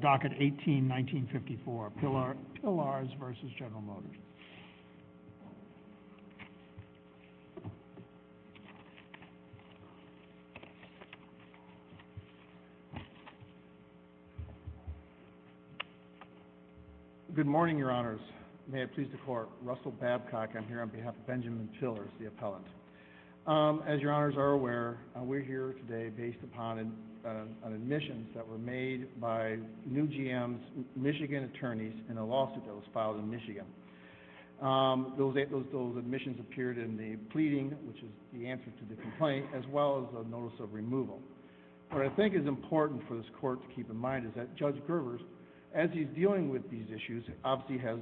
Docket 18-1954, Pillars v. General Motors. Good morning, Your Honors. May it please the Court, Russell Babcock, I'm here on behalf of Benjamin Pillars, the appellant. As Your Honors are aware, we're here today based upon admissions that were made by new GMs, Michigan attorneys, in a lawsuit that was filed in Michigan. Those admissions appeared in the pleading, which is the answer to the complaint, as well as a notice of removal. What I think is important for this Court to keep in mind is that Judge Grovers, as he's dealing with these issues, obviously has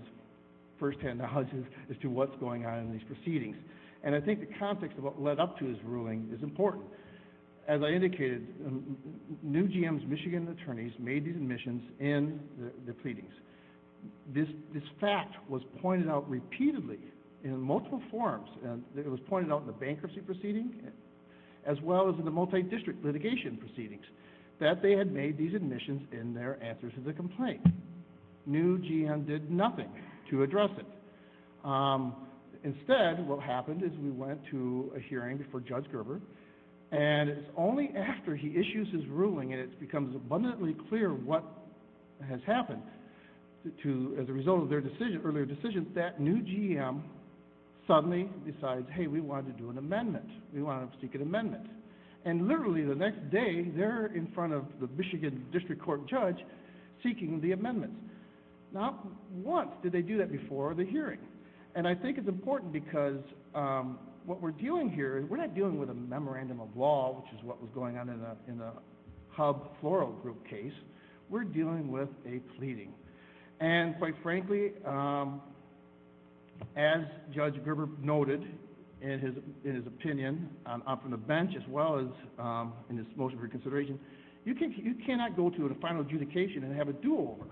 firsthand knowledge as to what's going on in these proceedings. And I think the context of what led up to his ruling is important. As I indicated, new GMs, Michigan attorneys, made these admissions in the pleadings. This fact was pointed out repeatedly in multiple forms, and it was pointed out in the bankruptcy proceeding as well as in the multi-district litigation proceedings, that they had made these admissions in their answers to the complaint. New GM did nothing to address it. Instead, what happened is we went to a hearing before Judge Grovers, and it's only after he issues his ruling and it becomes abundantly clear what has happened, as a result of their decision, earlier decisions, that new GM suddenly decides, hey, we want to do an amendment. We want to seek an amendment. And literally the next day, they're in front of the Michigan District Court judge seeking the amendment. Not once did they do that before the hearing. And I think it's important because what we're doing here, we're not dealing with a memorandum of law, which is what was going on in the Hub Floral Group case. We're dealing with a pleading. And quite frankly, as Judge Grovers noted in his opinion, up on the bench as well as in his motion for consideration, you cannot go to a final adjudication and have a do-over.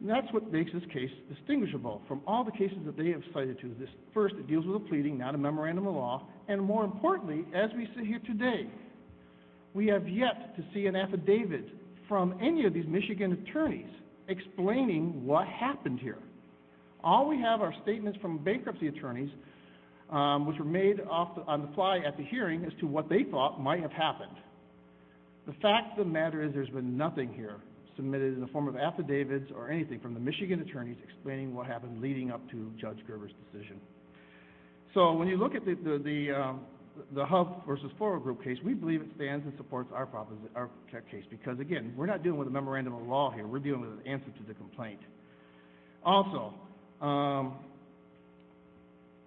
And that's what makes this case distinguishable from all the cases that they have cited to. First, it deals with a pleading, not a memorandum of law. And more importantly, as we sit here today, we have yet to see an affidavit from any of these Michigan attorneys explaining what happened here. All we have are statements from bankruptcy attorneys, which were made on the fly at the hearing as to what they thought might have happened. The fact of the matter is there's been nothing here submitted in the form of affidavits or anything from the Michigan attorneys explaining what happened leading up to Judge Grovers' decision. So, when you look at the Hub versus Floral Group case, we believe it stands and supports our case because, again, we're not dealing with a memorandum of law here. We're dealing with an answer to the complaint. Also,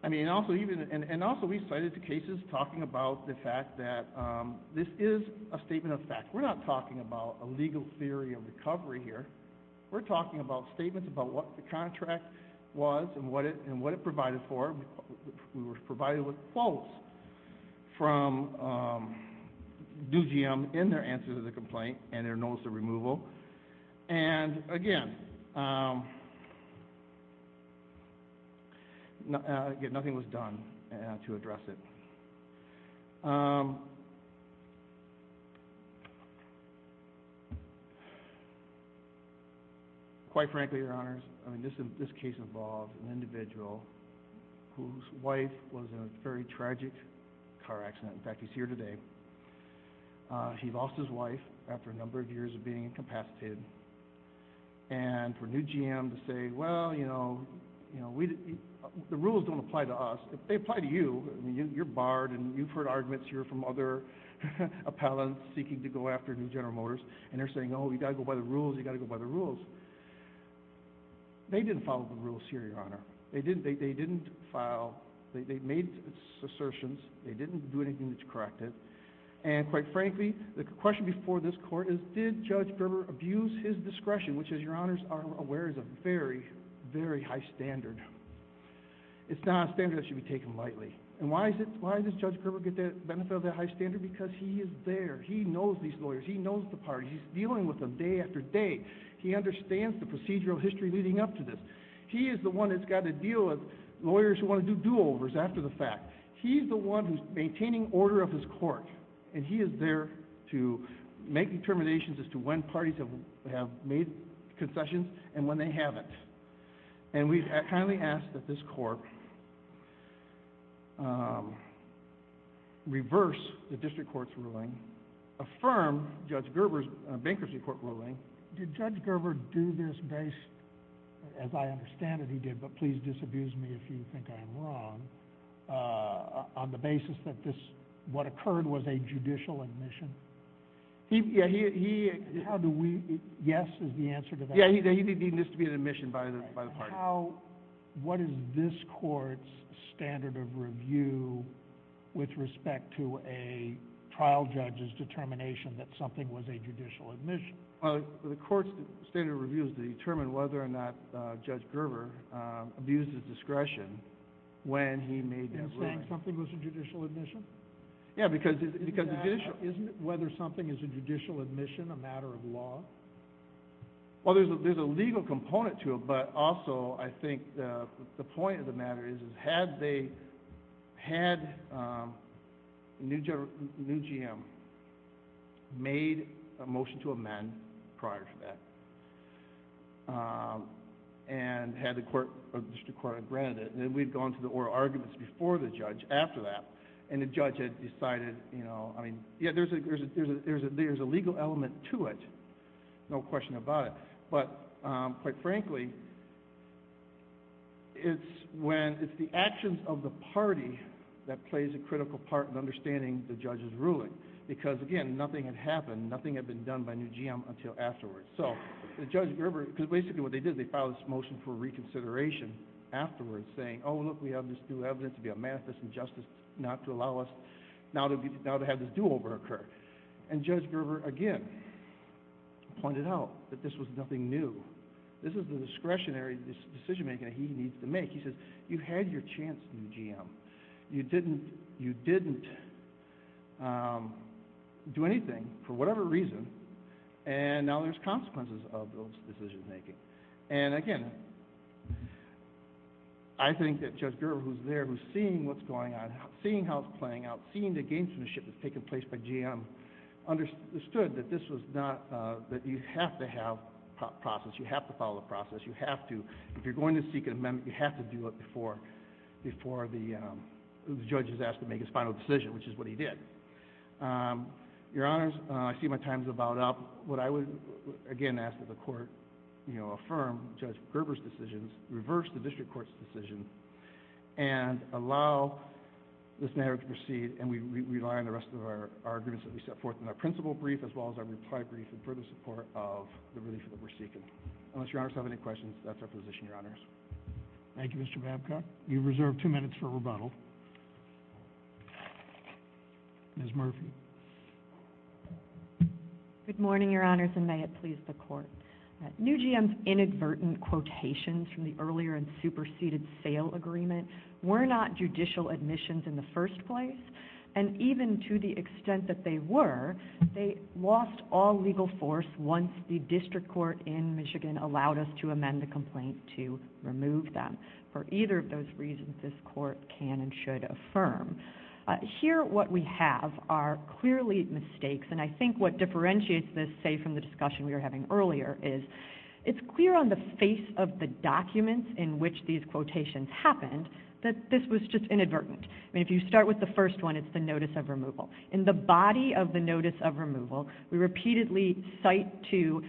I mean, and also we cited the cases talking about the fact that this is a statement of fact. We're not talking about a legal theory of recovery here. We're talking about statements about what the contract was and what it provided for. We were provided with quotes from due GM in their answer to the complaint and their notice of removal. And, again, nothing was done to address it. Quite frankly, Your Honors, I mean, this case involved an individual whose wife was in a very tragic car accident. In fact, he's here today. He lost his wife after a number of years of being incapacitated. And for new GM to say, well, you know, the rules don't apply to us. They apply to you. I mean, you're barred and you've heard arguments here from other appellants seeking to go after new General Motors. And they're saying, oh, you've got to go by the rules, you've got to go by the rules. They didn't follow the rules here, Your Honor. They didn't file. They made assertions. They didn't do anything to correct it. And, quite frankly, the question before this Court is, did Judge Gerber abuse his discretion, which, as Your Honors are aware, is a very, very high standard. It's not a standard that should be taken lightly. And why does Judge Gerber get the benefit of that high standard? Because he is there. He knows these lawyers. He knows the parties. He's dealing with them day after day. He understands the procedural history leading up to this. He is the one that's got to deal with lawyers who want to do do-overs after the fact. He's the one who's maintaining order of this Court. And he is there to make determinations as to when parties have made concessions and when they haven't. And we kindly ask that this Court reverse the District Court's ruling, affirm Judge Gerber's Bankruptcy Court ruling. Did Judge Gerber do this based, as I understand it he did, but please disabuse me if you think I'm wrong, on the basis that what occurred was a judicial admission? Yes, is the answer to that? Yes, he did need this to be an admission by the parties. What is this Court's standard of review with respect to a trial judge's determination that something was a judicial admission? Well, the Court's standard of review is to determine whether or not Judge Gerber abused his discretion when he made that ruling. You're saying something was a judicial admission? Yes, because the judicial— Isn't it whether something is a judicial admission a matter of law? Well, there's a legal component to it, but also I think the point of the matter is, had the new GM made a motion to amend prior to that, and had the District Court granted it, then we'd gone to the oral arguments before the judge, after that, and the judge had decided, you know, I mean, yeah, there's a legal element to it, no question about it. But, quite frankly, it's the actions of the party that plays a critical part in understanding the judge's ruling, because, again, nothing had happened, nothing had been done by new GM until afterwards. So, Judge Gerber, because basically what they did, they filed this motion for reconsideration afterwards, saying, oh, look, we have this new evidence to be a manifest injustice, not to allow us now to have this do-over occur. And Judge Gerber, again, pointed out that this was nothing new. This is the discretionary decision-making that he needs to make. He says, you had your chance, new GM. You didn't do anything for whatever reason, and now there's consequences of those decision-making. And, again, I think that Judge Gerber, who's there, who's seeing what's going on, seeing how it's playing out, seeing the gamesmanship that's taking place by GM, understood that this was not, that you have to have process, you have to follow the process, you have to. If you're going to seek an amendment, you have to do it before the judge is asked to make his final decision, which is what he did. Your Honors, I see my time's about up. What I would, again, ask that the Court, you know, affirm Judge Gerber's decisions, reverse the District Court's decision, and allow this matter to proceed, and we rely on the rest of our agreements that we set forth in our principal brief, as well as our reply brief in further support of the relief that we're seeking. Unless Your Honors have any questions, that's our position, Your Honors. Thank you, Mr. Babcock. You've reserved two minutes for rebuttal. Ms. Murphy. Good morning, Your Honors, and may it please the Court. New GM's inadvertent quotations from the earlier and superseded sale agreement were not judicial admissions in the first place, and even to the extent that they were, they lost all legal force once the District Court in Michigan allowed us to amend the complaint to remove them. For either of those reasons, this Court can and should affirm. Here, what we have are clearly mistakes, and I think what differentiates this, say, from the discussion we were having earlier, is it's clear on the face of the documents in which these quotations happened that this was just inadvertent. I mean, if you start with the first one, it's the notice of removal. In the body of the notice of removal, we repeatedly cite to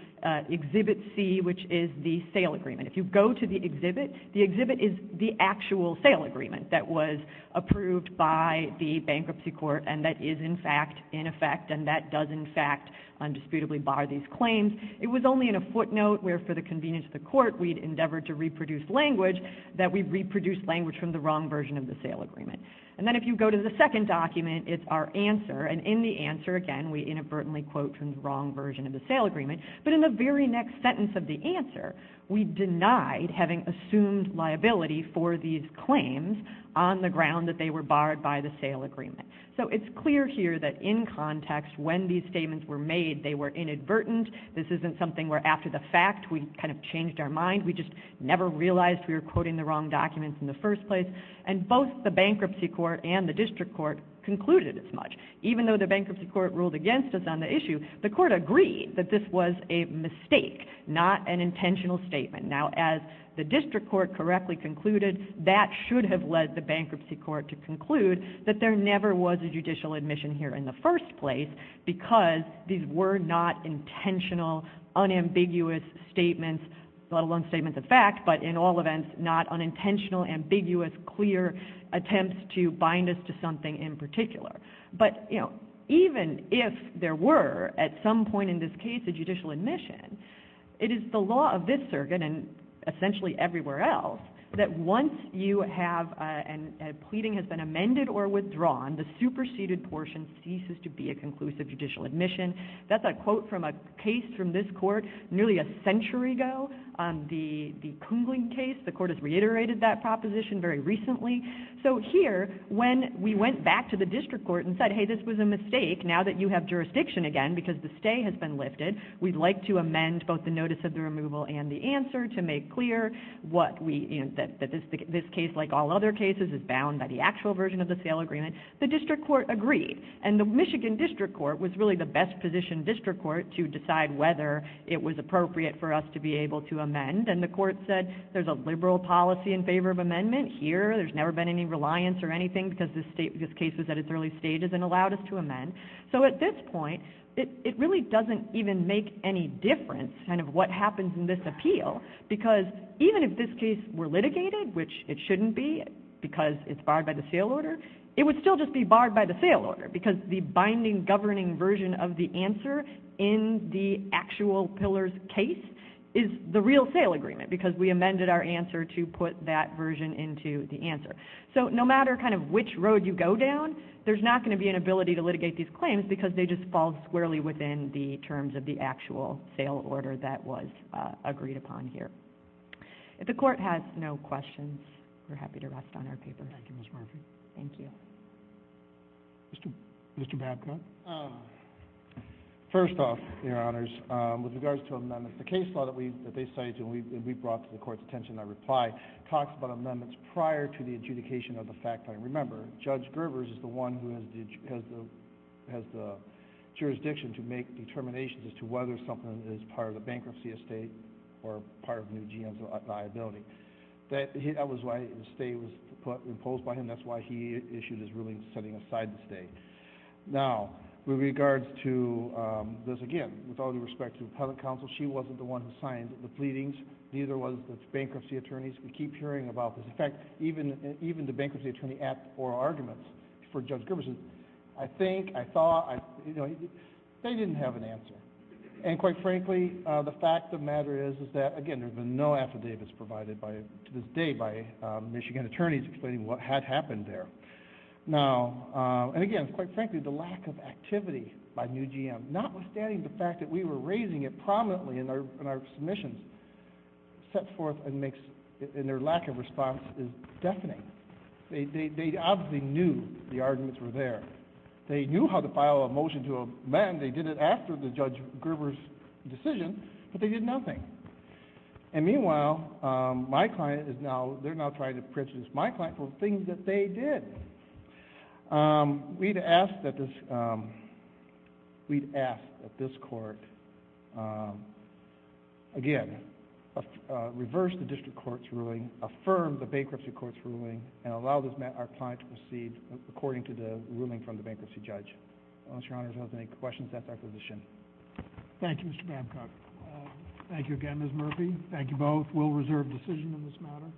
Exhibit C, which is the sale agreement. If you go to the exhibit, the exhibit is the actual sale agreement that was approved by the Bankruptcy Court, and that is, in fact, in effect, and that does, in fact, undisputably bar these claims. It was only in a footnote where, for the convenience of the Court, we had endeavored to reproduce language, that we reproduced language from the wrong version of the sale agreement. And then if you go to the second document, it's our answer, and in the answer, again, we inadvertently quote from the wrong version of the sale agreement, but in the very next sentence of the answer, we denied having assumed liability for these claims on the ground that they were barred by the sale agreement. So it's clear here that, in context, when these statements were made, they were inadvertent. This isn't something where, after the fact, we kind of changed our mind. We just never realized we were quoting the wrong documents in the first place. And both the Bankruptcy Court and the District Court concluded as much. Even though the Bankruptcy Court ruled against us on the issue, the Court agreed that this was a mistake, not an intentional statement. Now, as the District Court correctly concluded, that should have led the Bankruptcy Court to conclude that there never was a judicial admission here in the first place because these were not intentional, unambiguous statements, let alone statements of fact, but in all events, not unintentional, ambiguous, clear attempts to bind us to something in particular. But, you know, even if there were, at some point in this case, a judicial admission, it is the law of this circuit, and essentially everywhere else, that once you have a pleading has been amended or withdrawn, the superseded portion ceases to be a conclusive judicial admission. That's a quote from a case from this court nearly a century ago, the Kungling case. The Court has reiterated that proposition very recently. So here, when we went back to the District Court and said, hey, this was a mistake, now that you have jurisdiction again because the stay has been lifted, we'd like to amend both the notice of the removal and the answer to make clear that this case, like all other cases, is bound by the actual version of the sale agreement, the District Court agreed. And the Michigan District Court was really the best-positioned District Court to decide whether it was appropriate for us to be able to amend. And the Court said there's a liberal policy in favor of amendment here, there's never been any reliance or anything because this case was at its early stages and allowed us to amend. So at this point, it really doesn't even make any difference kind of what happens in this appeal because even if this case were litigated, which it shouldn't be because it's barred by the sale order, it would still just be barred by the sale order because the binding governing version of the answer in the actual Pillar's case is the real sale agreement because we amended our answer to put that version into the answer. So no matter kind of which road you go down, there's not going to be an ability to litigate these claims because they just fall squarely within the terms of the actual sale order that was agreed upon here. If the Court has no questions, we're happy to rest on our paper. Thank you, Ms. Marford. Thank you. Mr. Babcock. First off, Your Honors, with regards to amendments, the case law that they cited and we brought to the Court's attention in our reply talks about amendments prior to the adjudication of the fact-finding. Remember, Judge Gerbers is the one who has the jurisdiction to make determinations as to whether something is part of the bankruptcy estate or part of the new GM's liability. That was why the estate was imposed by him. That's why he issued his ruling setting aside the estate. Now, with regards to this, again, with all due respect to the Appellant Counsel, she wasn't the one who signed the pleadings. Neither was the bankruptcy attorneys. We keep hearing about this. In fact, even the bankruptcy attorney at oral arguments for Judge Gerbers says, I think, I thought, you know, they didn't have an answer. And quite frankly, the fact of the matter is that, again, there's been no affidavits provided to this day by Michigan attorneys explaining what had happened there. Now, and again, quite frankly, the lack of activity by new GM, notwithstanding the fact that we were raising it prominently in our submissions, sets forth and makes, and their lack of response is deafening. They obviously knew the arguments were there. They knew how to file a motion to amend. They did it after the Judge Gerbers' decision, but they did nothing. And meanwhile, my client is now, they're now trying to prejudice my client for the things that they did. We'd ask that this court, again, reverse the district court's ruling, affirm the bankruptcy court's ruling, and allow our client to proceed according to the ruling from the bankruptcy judge. Unless Your Honor has any questions, that's our position. Thank you, Mr. Babcock. Thank you again, Ms. Murphy. Thank you both. We'll reserve decision in this matter.